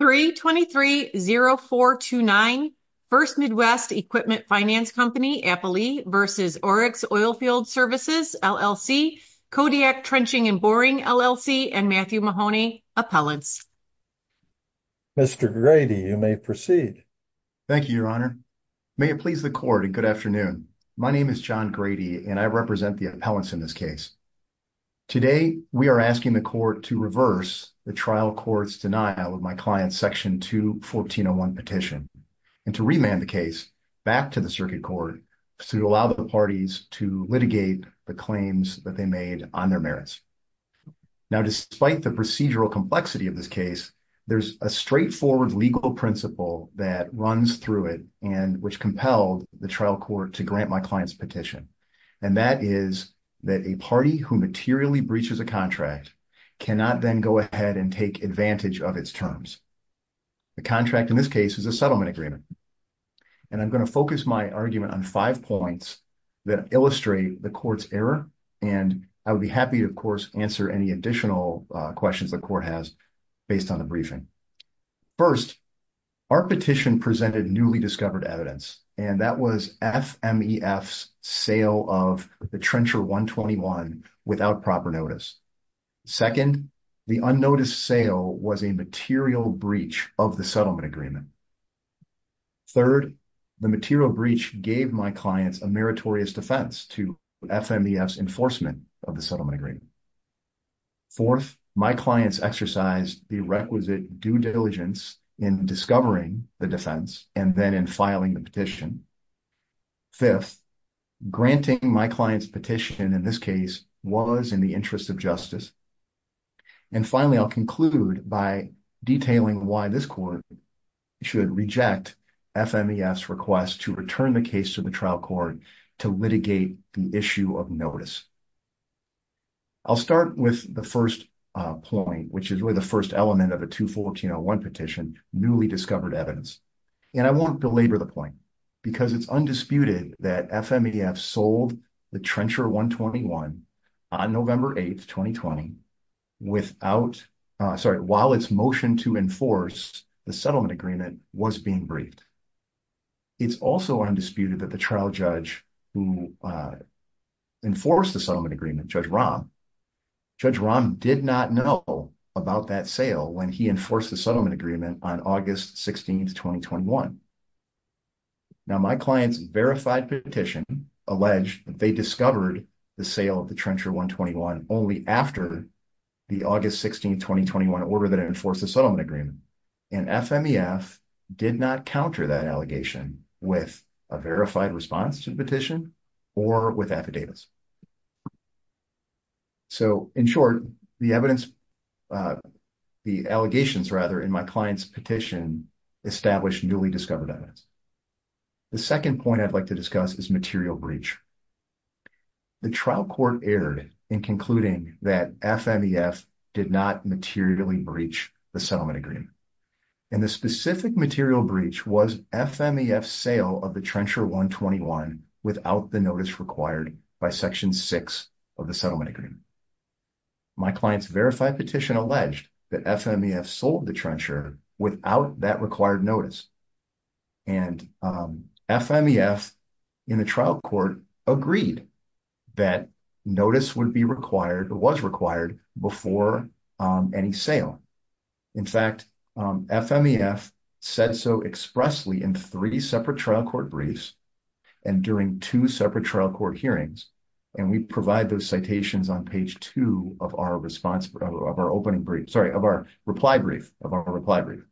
3-23-0429 First Midwest Equipment Finance Company, Applee v. Oryx Oilfield Services, LLC, Kodiak Trenching & Boring, LLC, and Matthew Mahoney, Appellants. Mr. Grady, you may proceed. Thank you, Your Honor. May it please the court and good afternoon. My name is John Grady and I represent the appellants in this case. Today, we are asking the court to reverse the trial court's denial of my client's section 2 1401 petition and to remand the case back to the circuit court to allow the parties to litigate the claims that they made on their merits. Now, despite the procedural complexity of this case, there's a straightforward legal principle that runs through it and which compelled the trial court to grant my client's petition. And that is that a party who materially breaches a contract cannot then go ahead and take advantage of its terms. The contract in this case is a settlement agreement. And I'm going to focus my argument on five points that illustrate the court's error. And I would be happy to, of course, answer any additional questions the court has based on the FMEF's sale of the trencher 121 without proper notice. Second, the unnoticed sale was a material breach of the settlement agreement. Third, the material breach gave my clients a meritorious defense to FMEF's enforcement of the settlement agreement. Fourth, my clients exercised the requisite due diligence in discovering the defense and then in filing the petition. Fifth, granting my client's petition in this case was in the interest of justice. And finally, I'll conclude by detailing why this court should reject FMEF's request to return the case to the trial court to litigate the issue of notice. I'll start with the first point, which is really the first element of a 214-01 petition, newly discovered evidence. And I won't belabor the point because it's undisputed that FMEF sold the trencher 121 on November 8th, 2020, while its motion to enforce the settlement agreement was being briefed. It's also undisputed that the trial judge who enforced the settlement agreement, Judge Rahm, Judge Rahm did not know about that sale when he enforced the settlement agreement on August 16th, 2021. Now my client's verified petition alleged that they discovered the sale of the trencher 121 only after the August 16th, 2021 order that enforced the settlement agreement. And FMEF did not counter that allegation with a verified response to the petition or with affidavits. So in short, the evidence, the allegations rather in my client's petition established newly discovered evidence. The second point I'd like to discuss is material breach. The trial court erred in concluding that FMEF did not materially breach the settlement agreement. And the specific material breach was FMEF's sale of the trencher 121 without the notice required by section six of the settlement agreement. My client's verified petition alleged that FMEF sold the trencher without that required notice. And FMEF in the trial court agreed that notice would be required, was required before any sale. In fact, FMEF said so expressly in three separate trial court briefs and during two separate trial court hearings. And we provide those citations on page two of our response of our opening brief, sorry, of our reply brief, of our reply brief.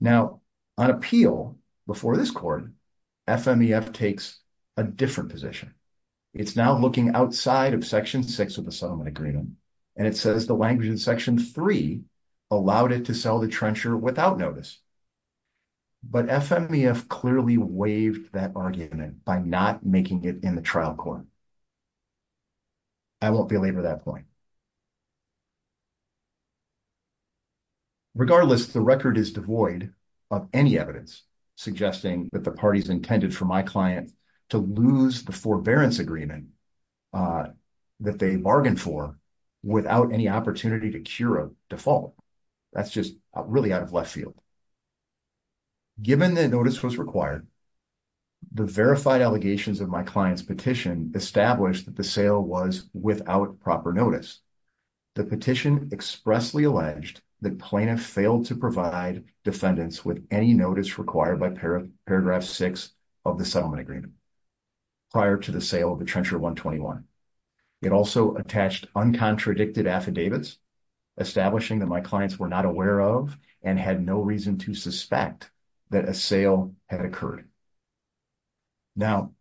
Now on appeal before this court, FMEF takes a different position. It's now looking outside of section six of the settlement agreement. And it says the language in section three allowed it to sell the trencher without notice. But FMEF clearly waived that argument by not making it in the trial court. I won't belabor that point. Regardless, the record is devoid of any evidence suggesting that the parties intended for my client to lose the forbearance agreement that they bargained for without any opportunity to cure default. That's just really out of left field. Given that notice was required, the verified allegations of my client's petition established that the sale was without proper notice. The petition expressly alleged that plaintiff failed to provide defendants with any notice required by paragraph six of the settlement agreement prior to the sale of contradiction affidavits, establishing that my clients were not aware of and had no reason to suspect that a sale had occurred. Now,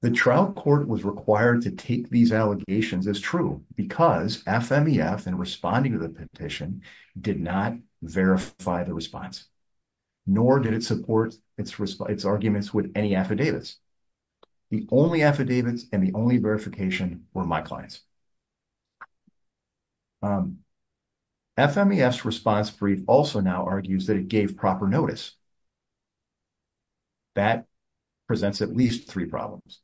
the trial court was required to take these allegations as true because FMEF in responding to the petition did not verify the response, nor did it support its arguments with any affidavits. The only affidavits and the only verification were my clients. FMEF's response brief also now argues that it gave proper notice. That presents at least three problems.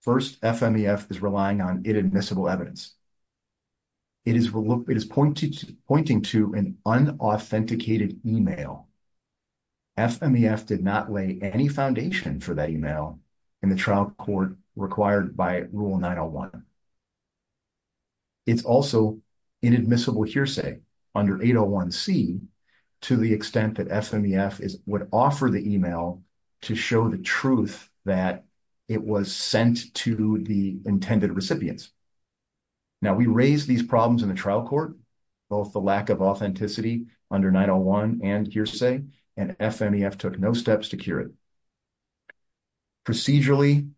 First, FMEF is relying on inadmissible evidence. It is pointing to an unauthenticated email. FMEF did not lay any foundation for that email in the trial court required by rule 901. It's also inadmissible hearsay under 801c to the extent that FMEF would offer the email to show the truth that it was sent to the intended recipients. Now, we raised these problems in the trial court, both the lack of authenticity under 901 and hearsay, and FMEF took no steps to cure it. Procedurally,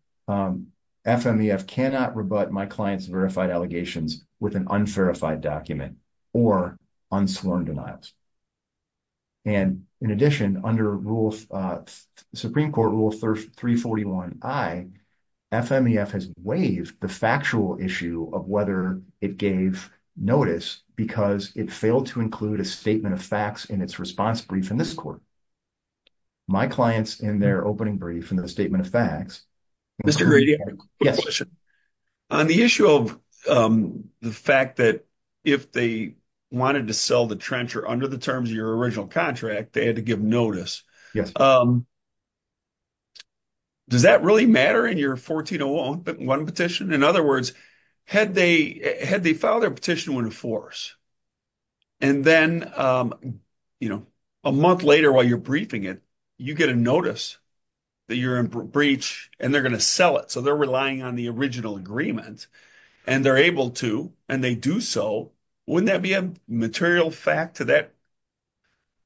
FMEF cannot rebut my client's verified allegations with an unverified document or unsworn denials. In addition, under Supreme Court Rule 341i, FMEF has waived the factual issue of whether it gave notice because it failed to include a statement of facts in its response brief in this court. My clients, in their opening brief, in their statement of facts... Mr. Grady, on the issue of the fact that if they wanted to sell the trencher under the terms of your original contract, they had to give notice. Does that really matter in your 1401 petition? In other words, had they filed their petition when in force, and then a month later while you're briefing it, you get a notice that you're in breach and they're going to sell it. So, they're relying on the original agreement, and they're able to, and they do so. Wouldn't that be a material fact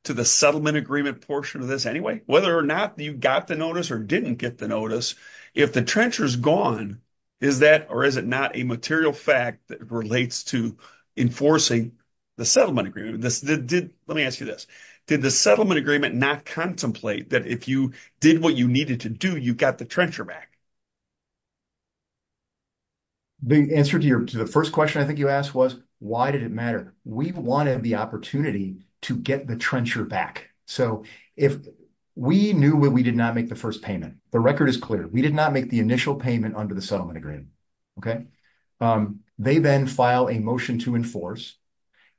to the settlement agreement portion of this anyway? Whether or not you got the notice or didn't get the notice, if the trencher's gone, is that or is it not a material fact that relates to enforcing the settlement agreement? Let me ask you this. Did the settlement agreement not contemplate that if you did what you needed to do, you got the trencher back? The answer to the first question I think you asked was, why did it matter? We wanted the opportunity to get the trencher back. So, if we knew that we did not make the first payment, the record is clear. We did not make the initial payment under the settlement agreement, okay? They then file a motion to enforce,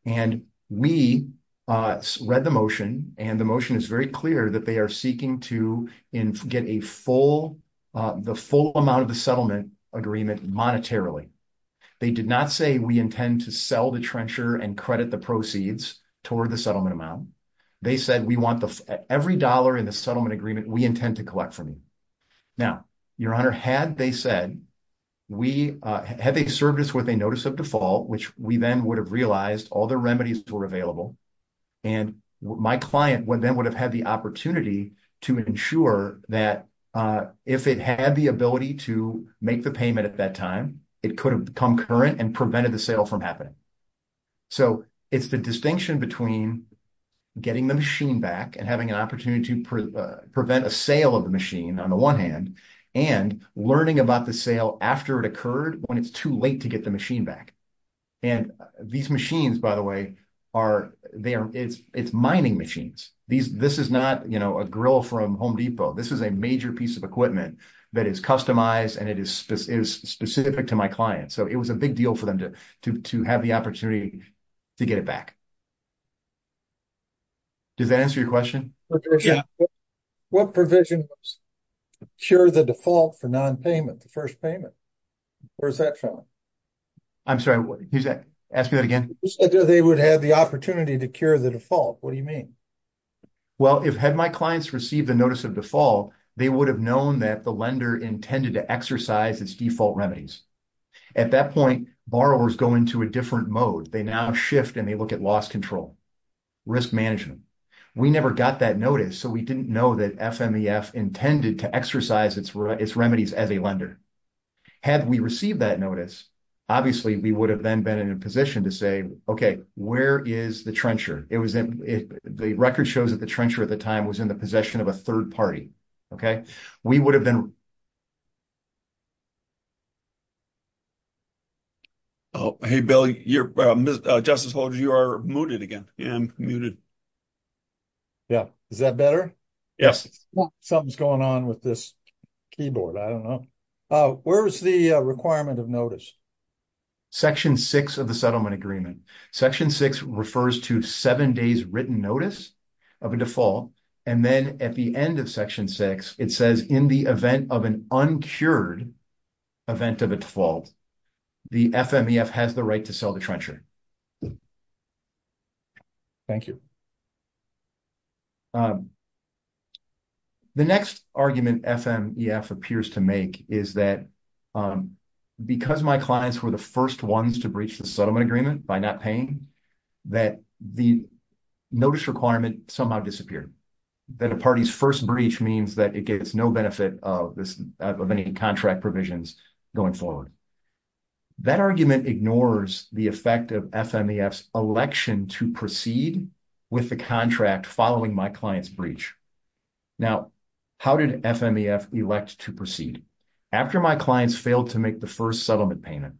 and we read the motion, and the motion is very clear that they are seeking to get the full amount of the settlement agreement monetarily. They did not say we intend to sell the trencher and credit the proceeds toward the settlement amount. They said we want every dollar in the settlement agreement we intend to collect from you. Now, your honor, had they served us with a notice of default, which we then would have realized all the remedies were available, and my client then would have had the opportunity to ensure that if it had the ability to make the payment at that time, it could have come current and prevented the sale from happening. So, it's the distinction between getting the machine back and having an opportunity to prevent a sale of the machine on the one hand, and learning about the sale after it occurred when it's too late to get the machine back. And these machines, by the way, are, they are, it's mining machines. This is not, you know, a grill from Home Depot. This is a major piece of equipment that is customized, and it is specific to my client. So, it was a big deal for them to have the opportunity to get it back. Does that answer your question? What provision cure the default for non-payment, the first payment? Where's that from? I'm sorry, ask me that again. They would have the opportunity to cure the default. What do you mean? Well, if had my clients received the notice of default, they would have known that the lender intended to exercise its default remedies. At that point, borrowers go into a different mode. They now shift and they look at loss control, risk management. We never got that notice, so we didn't know that FMEF intended to exercise its remedies as a lender. Had we received that notice, obviously, we would have then been in a position to say, okay, where is the trencher? It was, the record shows that the trencher at the time was in the Oh, hey, Bill, you're, Justice Holder, you are muted again. Yeah, I'm muted. Yeah, is that better? Yes. Something's going on with this keyboard. I don't know. Where's the requirement of notice? Section six of the settlement agreement. Section six refers to seven days written notice of a default. Then at the end of section six, it says in the event of an uncured event of a default, the FMEF has the right to sell the trencher. Thank you. The next argument FMEF appears to make is that because my clients were the first ones to breach the settlement agreement by not paying, that the notice requirement somehow disappeared. That a party's first breach means that it gets no benefit of any contract provisions going forward. That argument ignores the effect of FMEF's election to proceed with the contract following my client's breach. Now, how did FMEF elect to proceed? After my clients failed to make the settlement payment,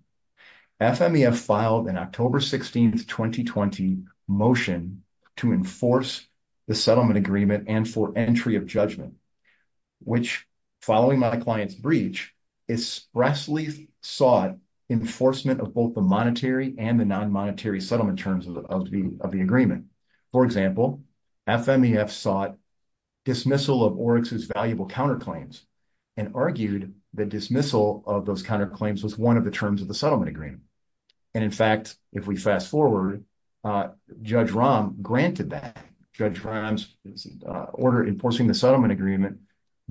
FMEF filed an October 16th, 2020 motion to enforce the settlement agreement and for entry of judgment, which following my client's breach expressly sought enforcement of both the monetary and the non-monetary settlement terms of the agreement. For example, FMEF sought dismissal of Oryx's valuable counterclaims and argued that dismissal of those counterclaims was one of the terms of the settlement agreement. And in fact, if we fast forward, Judge Rahm granted that. Judge Rahm's order enforcing the settlement agreement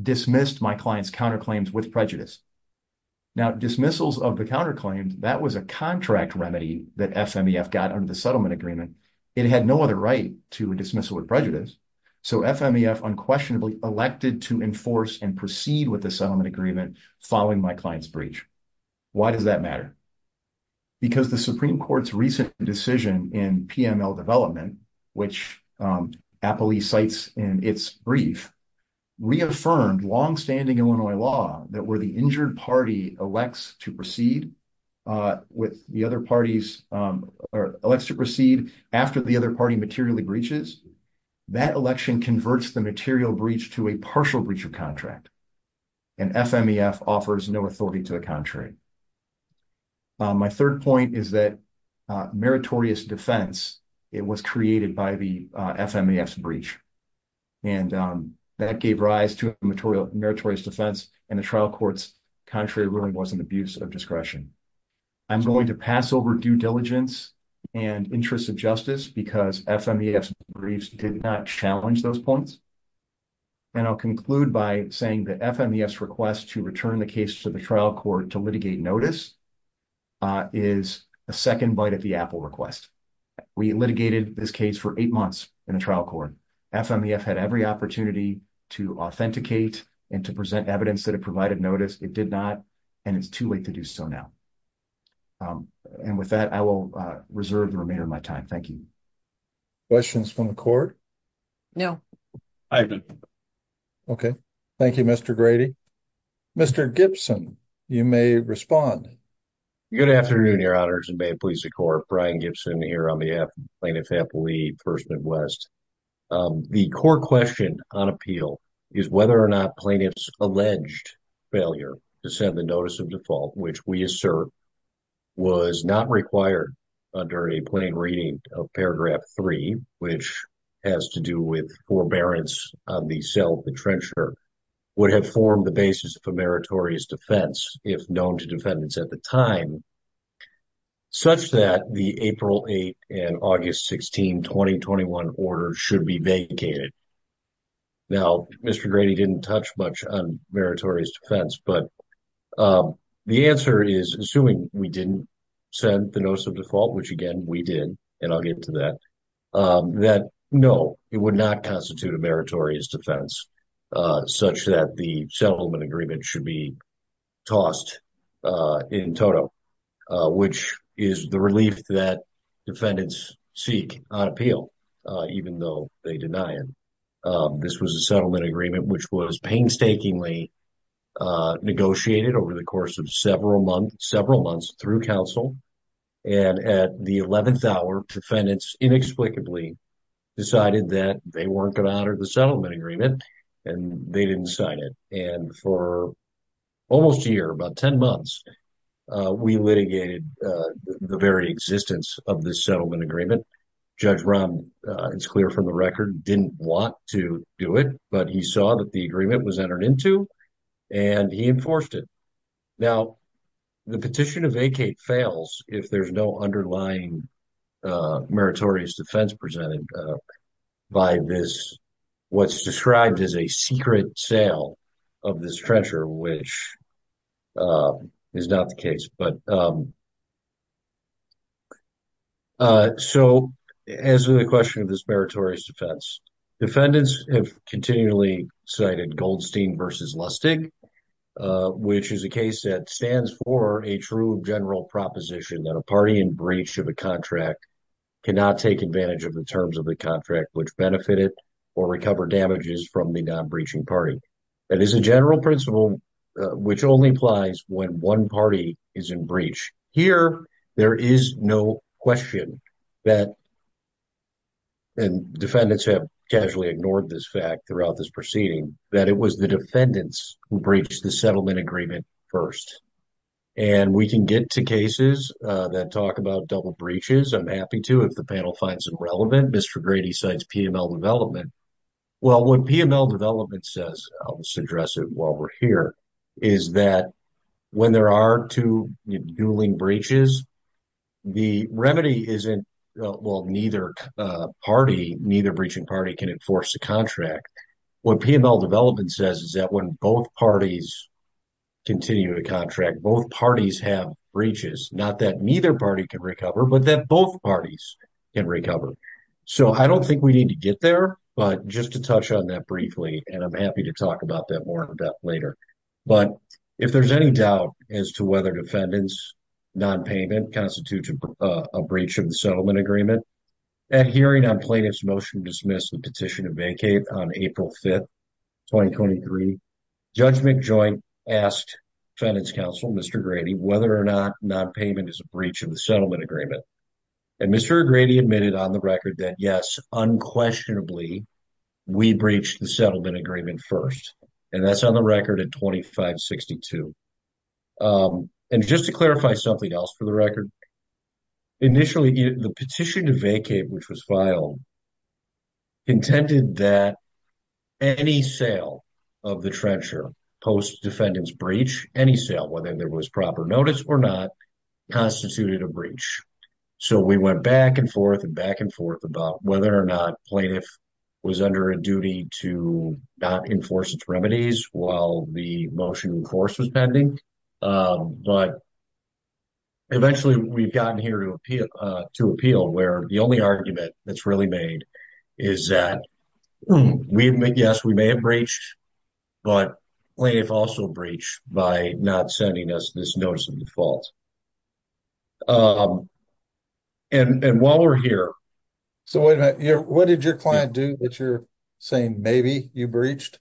dismissed my client's counterclaims with prejudice. Now, dismissals of the counterclaims, that was a contract remedy that FMEF got under the settlement agreement. It had no other right to dismissal with prejudice. So, FMEF unquestionably elected to enforce and proceed with the settlement agreement following my client's breach. Why does that matter? Because the Supreme Court's recent decision in PML development, which Apley cites in its brief, reaffirmed longstanding Illinois law that where the injured party elects to proceed with the other parties or elects to proceed after the other party materially breaches, that election converts the material breach to a partial breach of contract. And FMEF offers no authority to the contrary. My third point is that meritorious defense, it was created by the FMEF's breach. And that gave rise to meritorious defense and the trial court's contrary ruling was an abuse of discretion. I'm going to pass over due diligence and interests of justice because FMEF's briefs did not challenge those points. And I'll conclude by saying that FMEF's request to return the case to the trial court to litigate notice is a second bite at the apple request. We litigated this case for eight months in the trial court. FMEF had every opportunity to authenticate and to present evidence that it provided notice. It did not, and it's too late to do so now. And with that, I will reserve the remainder of my time. Thank you. Questions from the court? No. Okay. Thank you, Mr. Grady. Mr. Gibson, you may respond. Good afternoon, your honors, and may it please the court. Brian Gibson here on the plaintiff's First Midwest. The core question on appeal is whether or not plaintiff's alleged failure to send the notice of default, which we assert was not required under a plain reading of paragraph three, which has to do with forbearance on the cell of the trencher, would have formed the basis for meritorious defense, if known to defendants at the time, such that the April 8 and August 16, 2021 order should be vacated. Now, Mr. Grady didn't touch much on meritorious defense, but the answer is, assuming we didn't send the notice of default, which again, we did, and I'll get to that, that no, it would not constitute a meritorious defense such that the settlement agreement should be tossed in toto, which is the relief that defendants seek on appeal, even though they deny it. This was a settlement agreement, which was painstakingly negotiated over the course of several months through counsel, and at the 11th hour, defendants inexplicably decided that they weren't going to honor the agreement, and they didn't sign it. And for almost a year, about 10 months, we litigated the very existence of the settlement agreement. Judge Rahm, it's clear from the record, didn't want to do it, but he saw that the agreement was entered into, and he enforced it. Now, the petition to vacate fails if there's no underlying meritorious defense presented by this, what's described as a secret sale of this treasure, which is not the case. So, as to the question of this meritorious defense, defendants have continually cited Goldstein versus Lustig, which is a case that stands for a true general proposition that a which benefit it or recover damages from the non-breaching party. That is a general principle, which only applies when one party is in breach. Here, there is no question that, and defendants have casually ignored this fact throughout this proceeding, that it was the defendants who breached the settlement agreement first. And we can get to talk about double breaches. I'm happy to, if the panel finds them relevant. Mr. Grady cites PML development. Well, what PML development says, I'll just address it while we're here, is that when there are two dueling breaches, the remedy isn't, well, neither party, neither breaching party can enforce a contract. What PML development says is that when both parties continue a contract, both parties have breaches, not that neither party can recover, but that both parties can recover. So, I don't think we need to get there, but just to touch on that briefly, and I'm happy to talk about that more in depth later. But if there's any doubt as to whether defendants' non-payment constitutes a breach of the settlement agreement, at hearing on plaintiff's motion to dismiss the petition to vacate on April 5th, 2023, Judge McJoint asked defendants' counsel, Mr. Grady, whether or not non-payment is a breach of the settlement agreement. And Mr. Grady admitted on the record that yes, unquestionably, we breached the settlement agreement first. And that's on the record at 2562. And just to clarify something else for the record, initially, the petition to vacate, which was filed, intended that any sale of the trencher post defendant's breach, any sale, whether there was proper notice or not, constituted a breach. So, we went back and forth and back and forth about whether or not plaintiff was under a duty to not enforce its remedies while the motion in force was pending. But eventually, we've gotten here to appeal where the only argument that's really made is that yes, we may have breached, but plaintiff also breached by not sending us this notice of default. And while we're here... So, what did your client do that you're saying maybe you breached?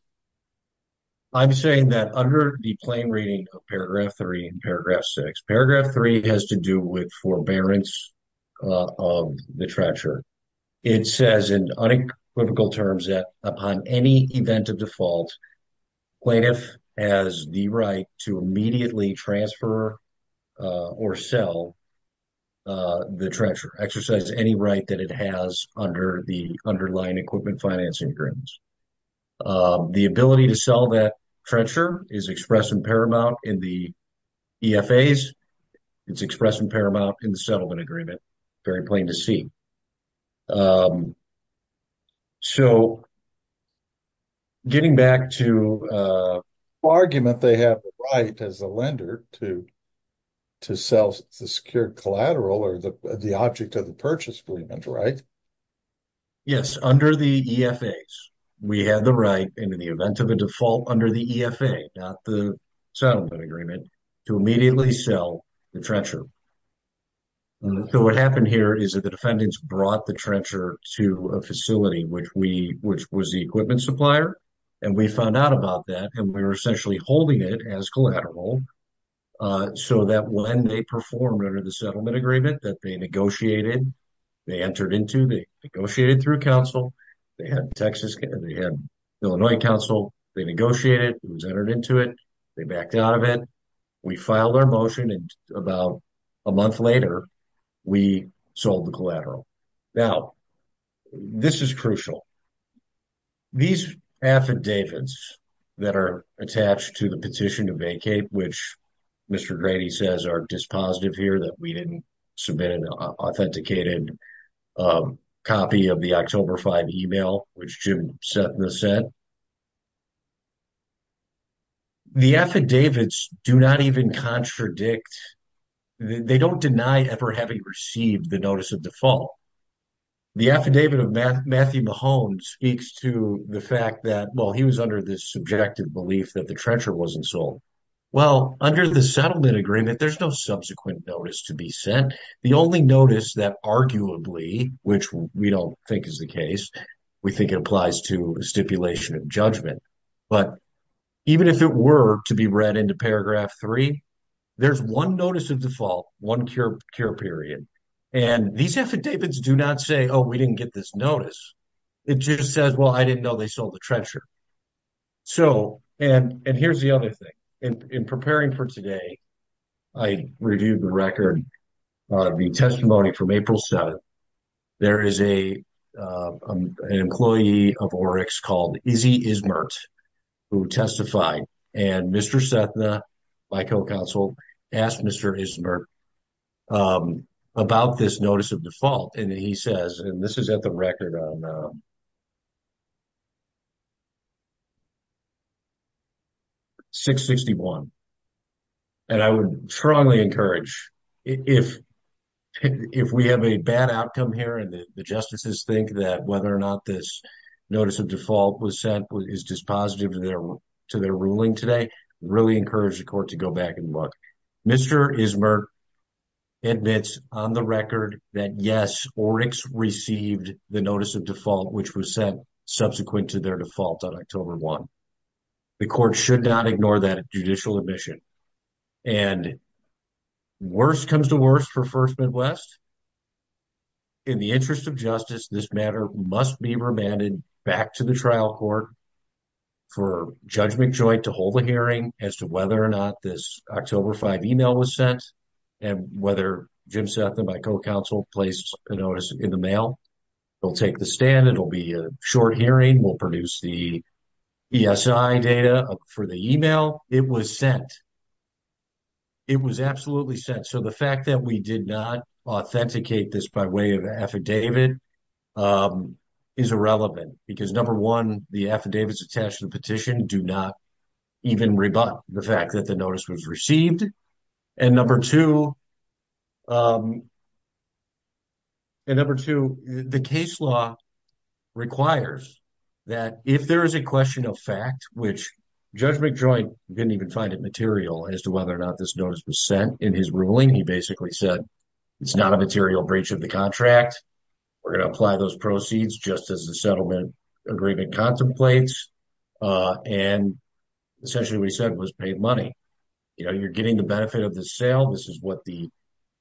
I'm saying that under the plain reading of paragraph three and paragraph six, paragraph three has to do with forbearance of the trencher. It says in unequivocal terms that upon any event of default, plaintiff has the right to immediately transfer or sell the trencher, exercise any right that it has under the underlying equipment financing agreements. The ability to sell that trencher is expressed in paramount in the EFAs. It's expressed in paramount in the settlement agreement, very plain to see. So, getting back to... Argument they have the right as a lender to sell the secured collateral or the object of the purchase agreement, right? Yes, under the EFAs. We have the right in the event of a default under the EFA, not the settlement agreement, to immediately sell the trencher. So, what happened here is that the defendants brought the trencher to a facility, which was the equipment supplier. And we found out about that and we were essentially holding it as collateral so that when they perform under the settlement agreement that they negotiated, they entered into, they negotiated through council, they had Texas, they had Illinois council, they negotiated, it was entered into it, they backed out of it. We filed our motion and about a month later, we sold the collateral. Now, this is crucial. These affidavits that are attached to the petition to vacate, which Mr. Grady says are dispositive here that we didn't submit an authenticated copy of the October 5 email, which Jim said. The affidavits do not even contradict, they don't deny ever having received the notice of default. The affidavit of Matthew Mahone speaks to the fact that, well, he was under this subjective belief that the trencher wasn't sold. Well, under the settlement agreement, there's no subsequent notice to be sent. The only notice that arguably, which we don't think is the case, we think it applies to stipulation of judgment, but even if it were to be read into paragraph three, there's one notice of default, one cure period. And these affidavits do not say, oh, we didn't get this notice. It just says, well, I didn't know they sold the trencher. So, and here's the other thing. In preparing for today, I reviewed the record, the testimony from April 7th. There is an employee of Oryx called Izzy Ismert who testified. And Mr. Sethna, my co-counsel, asked Mr. Ismert about this notice of default. And he says, and this is at the record on 661. And I would strongly encourage, if we have a bad outcome here and the justices think that whether or not this notice of default was sent is dispositive to their ruling today, really encourage the court to go back and look. Mr. Ismert admits on the received the notice of default, which was sent subsequent to their default on October 1. The court should not ignore that judicial admission. And worse comes to worse for First Midwest. In the interest of justice, this matter must be remanded back to the trial court for Judge McJoy to hold a hearing as to whether or not this October 5 email was sent and whether Jim Sethna, my co-counsel, placed a notice in the mail. We'll take the stand. It'll be a short hearing. We'll produce the ESI data for the email. It was sent. It was absolutely sent. So the fact that we did not authenticate this by way of affidavit is irrelevant. Because number one, the affidavits attached to the petition do not even rebut the fact that the notice was received. And number two, the case law requires that if there is a question of fact, which Judge McJoy didn't even find it material as to whether or not this notice was sent in his ruling, he basically said, it's not a material breach of the contract. We're going to apply those proceeds just as the settlement agreement contemplates. And essentially, what he said was paid money. You know, you're getting the benefit of the sale. This is what the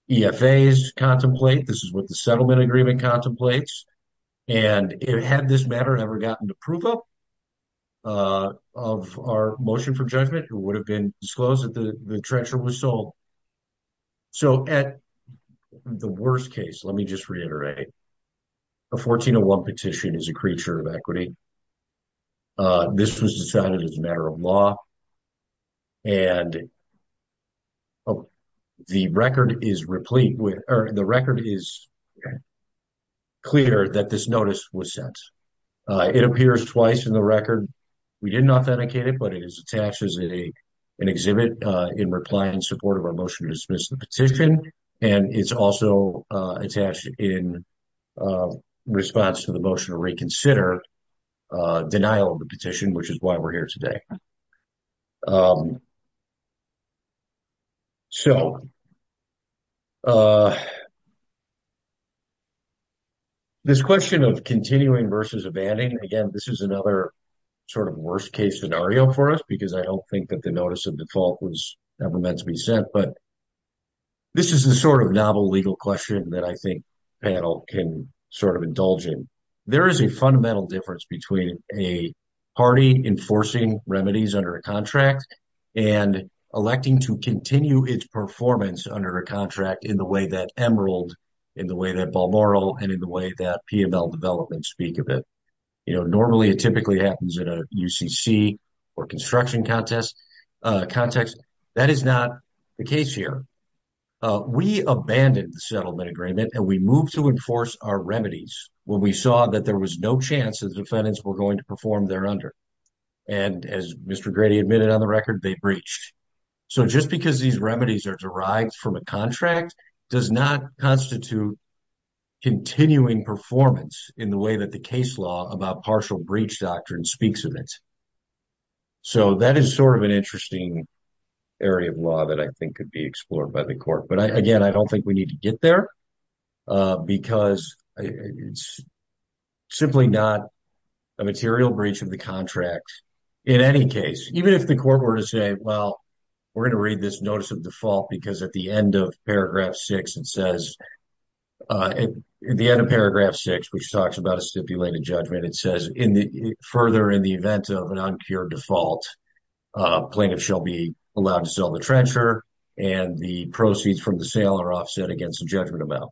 EFAs contemplate. This is what the settlement agreement contemplates. And had this matter ever gotten approval of our motion for judgment, it would have been disclosed that the treasurer was sold. So at the worst case, let me just reiterate, a 1401 petition is a creature of equity. This was decided as a matter of law. And the record is clear that this notice was sent. It appears twice in the record. We didn't authenticate it, but it is attached as an exhibit in reply and support of our motion to dismiss the petition. And it's also attached in a response to the motion to reconsider denial of the petition, which is why we're here today. So this question of continuing versus abandoning, again, this is another sort of worst case scenario for us, because I don't think that the notice of default was ever meant to be sent. But this is the sort of novel legal question that I think panel can sort of indulge in. There is a fundamental difference between a party enforcing remedies under a contract and electing to continue its performance under a contract in the way that Emerald, in the way that Balmoral, and in the way that PML developments speak of it. Normally it typically happens at a UCC or construction context. That is not the case here. We abandoned the settlement agreement and we moved to enforce our remedies when we saw that there was no chance that the defendants were going to perform there under. And as Mr. Grady admitted on the record, they breached. So just because these remedies are derived from a contract does not constitute continuing performance in the way that the case law about partial breach doctrine speaks of it. So that is sort of an interesting area of law that I think could be explored by the court. But again, I don't think we need to get there because it's simply not a material breach of the contract in any case, even if the court were to say, well, we're going to read this notice of default because at the end of paragraph six it says, at the end of paragraph six, which talks about a stipulated judgment, it says further in the event of an uncured default, plaintiff shall be allowed to sell the trencher and the proceeds from the sale are offset against the judgment amount.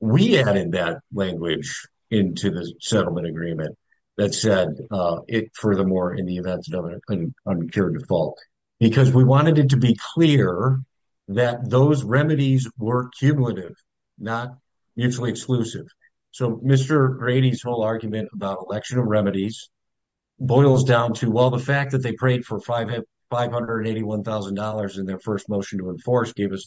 We added that language into the settlement agreement that said it furthermore in the event of an uncured default, because we wanted it to be clear that those remedies were cumulative, not mutually exclusive. So Mr. Grady's whole argument about election of remedies boils down to, well, the fact that they prayed for $581,000 in their first motion to enforce gave us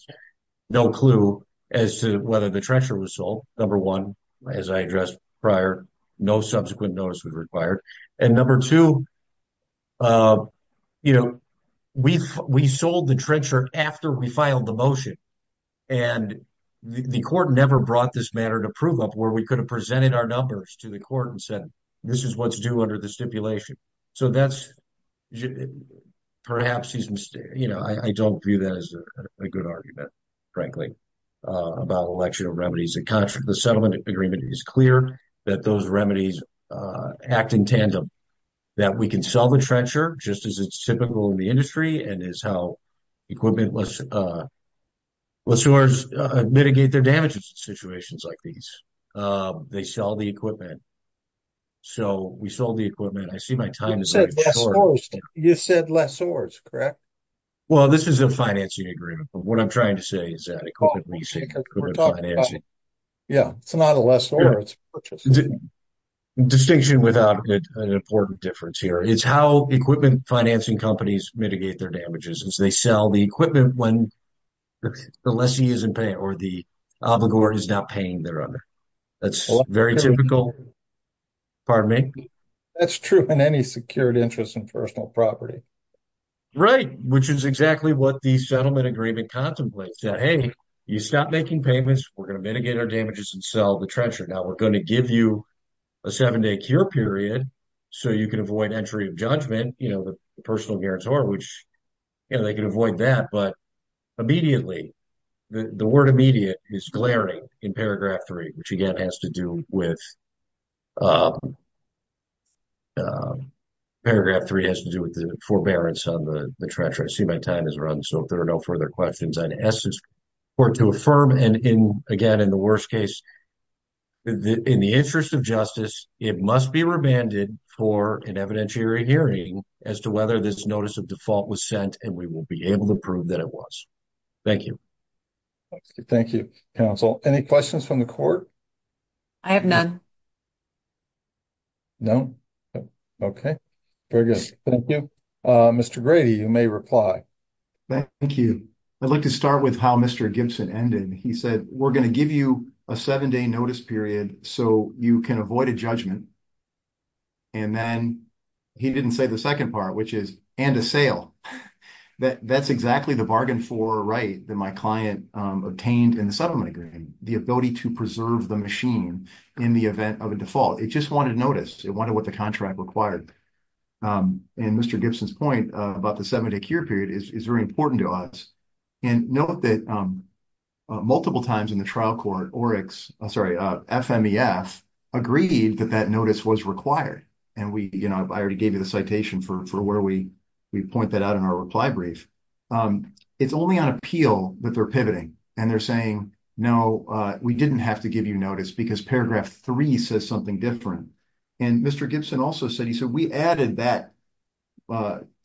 no clue as to whether the trencher was sold. Number one, as I addressed prior, no subsequent notice was required. And number two, you know, we sold the trencher after we filed the motion and the court never brought this matter to prove up where we could have presented our numbers to the court and said, this is what's due under the stipulation. So that's perhaps he's mistaken. You know, I don't view that as a good argument, frankly, about election of remedies. The settlement agreement is clear that those remedies act in tandem, that we can sell the trencher just as it's typical in the industry and is how equipment lessors mitigate their damages in situations like these. They sell the equipment. So we sold the equipment. I see my time is running short. You said lessors, correct? Well, this is a financing agreement. But what I'm trying to say is that equipment leasing and equipment financing. Yeah, it's not a lessor, it's a purchaser. Distinction without an important difference here is how equipment financing companies mitigate their damages as they sell the equipment when the lessee isn't paying or the obligor is not paying their owner. That's very typical. Pardon me? That's true in any secured interest in personal property. Right. Which is exactly what the settlement agreement contemplates that, hey, you stop making payments, we're going to mitigate our damages and sell the trencher. Now we're going to give you a seven-day cure period so you can avoid entry of judgment, you know, the personal guarantor, which, you know, they can avoid that. But immediately, the word immediate is glaring in paragraph three, which again has to do with paragraph three has to do with the forbearance on the trencher. I see my time has run, so if there are no further questions, I'd ask this court to affirm. And again, in the worst case, in the interest of justice, it must be remanded for an evidentiary hearing as to whether this notice of default was sent and we will be able to prove that it was. Thank you. Thank you, counsel. Any questions from the court? I have none. No? Okay. Very good. Thank you. Mr. Grady, you may reply. Thank you. I'd like to start with how Mr. Gibson ended. He said, we're going to give you a seven-day notice period so you can avoid a judgment. And then he didn't say the second part, which is, and a sale. That's exactly the bargain for right that my client obtained in the machine in the event of a default. It just wanted notice. It wanted what the contract required. And Mr. Gibson's point about the seven-day cure period is very important to us. And note that multiple times in the trial court, FMEF agreed that that notice was required. And I already gave you the citation for where we point that out in our reply brief. It's only on appeal that and they're saying, no, we didn't have to give you notice because paragraph three says something different. And Mr. Gibson also said, he said, we added that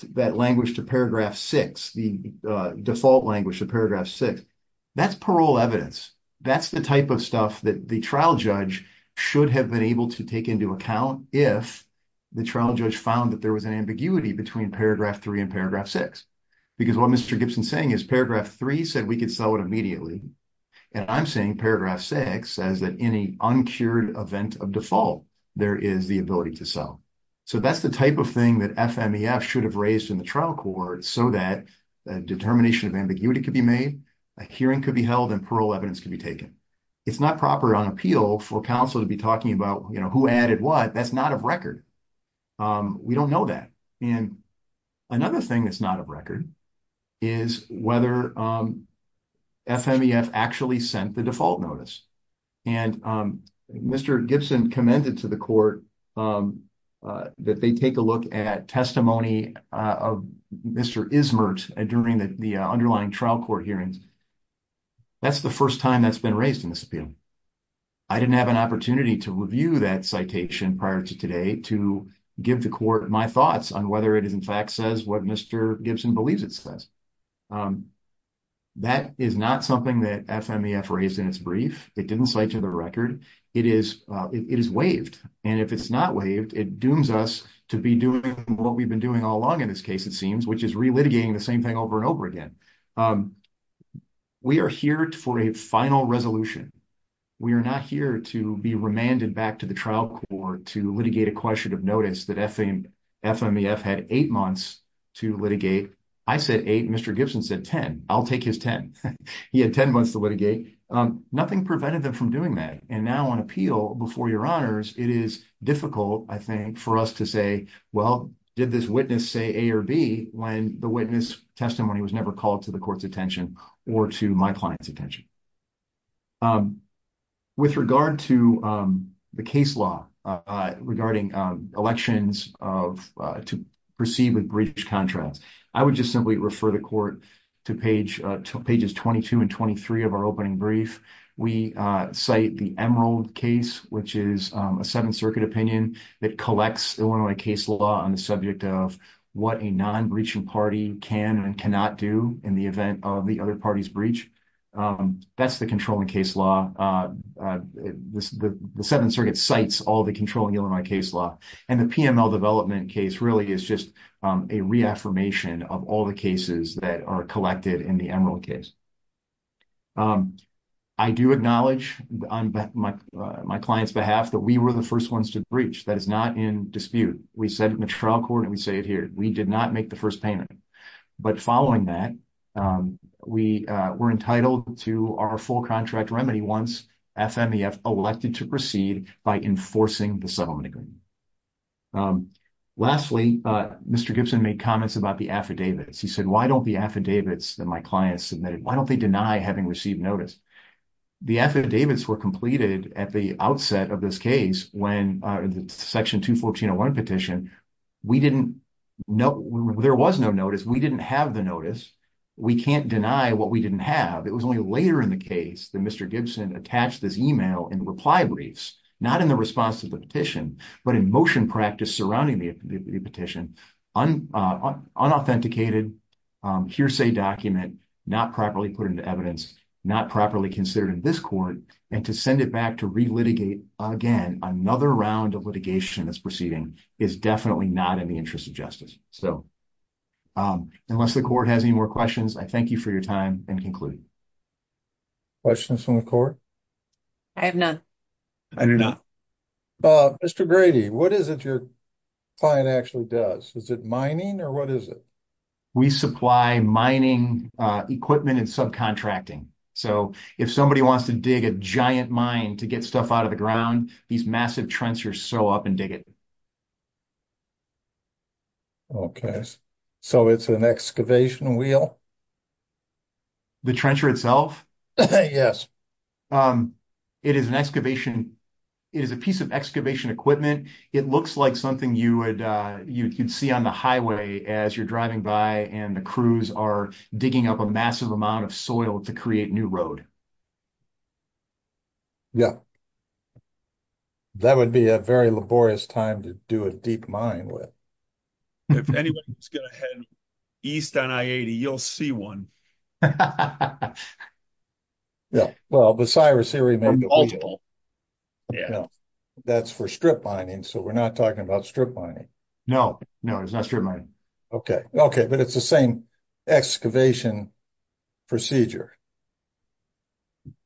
language to paragraph six, the default language of paragraph six. That's parole evidence. That's the type of stuff that the trial judge should have been able to take into account if the trial judge found that there was an ambiguity between paragraph three and paragraph six. Because what Mr. Gibson's saying is paragraph three said we could sell it immediately. And I'm saying paragraph six says that any uncured event of default, there is the ability to sell. So that's the type of thing that FMEF should have raised in the trial court so that a determination of ambiguity could be made, a hearing could be held and parole evidence could be taken. It's not proper on appeal for counsel to be talking about, you know, who added what that's not of record. We don't know that. And another thing that's not of record is whether FMEF actually sent the default notice. And Mr. Gibson commended to the court that they take a look at testimony of Mr. Ismert during the underlying trial court hearings. That's the first time that's been raised in this appeal. I didn't have an opportunity to review that citation prior to today to give the court my thoughts on whether it is in fact says what Mr. Gibson believes it says. That is not something that FMEF raised in its brief. It didn't cite to the record. It is waived. And if it's not waived, it dooms us to be doing what we've been doing all along in this case, it seems, which is relitigating the same thing over and over again. We are here for a final resolution. We are not here to be remanded back to the trial court to litigate a question of notice that FMEF had eight months to litigate. I said eight. Mr. Gibson said 10. I'll take his 10. He had 10 months to litigate. Nothing prevented them from doing that. And now on appeal before your honors, it is difficult, I think, for us to say, well, did this witness say A or B when the witness testimony was never called to the court's attention or to my client's attention. With regard to the case law regarding elections to proceed with breach contracts, I would just simply refer the court to pages 22 and 23 of our opening brief. We cite the Emerald case, which is a Seventh Circuit opinion that collects Illinois case law on the subject of what a non-breaching party can and cannot do in the event of the other party's breach. That's the controlling case law. The Seventh Circuit cites all the controlling Illinois case law. And the PML development case really is just a reaffirmation of all the cases that are collected in the Emerald case. I do acknowledge on my client's behalf that we were the first ones to breach. That is not in dispute. We said in the trial court, and we say it here, we did not make the first payment. But following that, we were entitled to our full contract remedy once FMEF elected to proceed by enforcing the settlement agreement. Lastly, Mr. Gibson made comments about the affidavits. He said, why don't the affidavits that my client submitted, why don't they deny having received notice? The affidavits were completed at the outset of this case when the Section 214.1 petition, there was no notice. We didn't have the notice. We can't deny what we didn't have. It was only later in the case that Mr. Gibson attached this email in reply briefs, not in the response to the petition, but in motion practice surrounding the petition, unauthenticated, hearsay document, not properly put into evidence, not properly considered in this court, and to send it back to re-litigate again, another round of litigation that's proceeding is definitely not in the interest of justice. Unless the court has any more questions, I thank you for your time and conclude. Questions from the court? I have none. I do not. Mr. Grady, what is it your client actually does? Is it mining or what is it? We supply mining equipment and subcontracting. So, if somebody wants to dig a giant mine to get stuff out of the ground, these massive trenchers sew up and dig it. Okay, so it's an excavation wheel? The trencher itself? Yes. It is an excavation, it is a piece of excavation equipment. It looks like something you would see on the highway as you're driving by and the crews are digging up a massive amount of soil to create new road. Yeah, that would be a very laborious time to do a deep mine with. If anyone's going to head east on I-80, you'll see one. Yeah, well, but Cyrus here, he made multiple. That's for strip mining, so we're not talking about strip mining? No, it's not strip mining. Okay, but it's the same excavation procedure?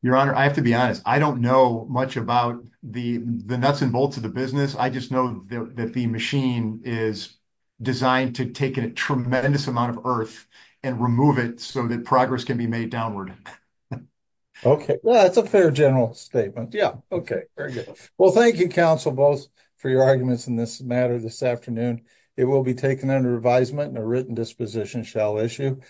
Your Honor, I have to be honest. I don't know much about the nuts and bolts of the business. I just know that the machine is designed to take a tremendous amount of earth and remove it so that progress can be made downward. Okay, well, that's a fair general statement. Yeah, okay, very good. Well, thank you, counsel, both for your arguments in this matter this afternoon. It will be taken under advisement and a written disposition shall issue.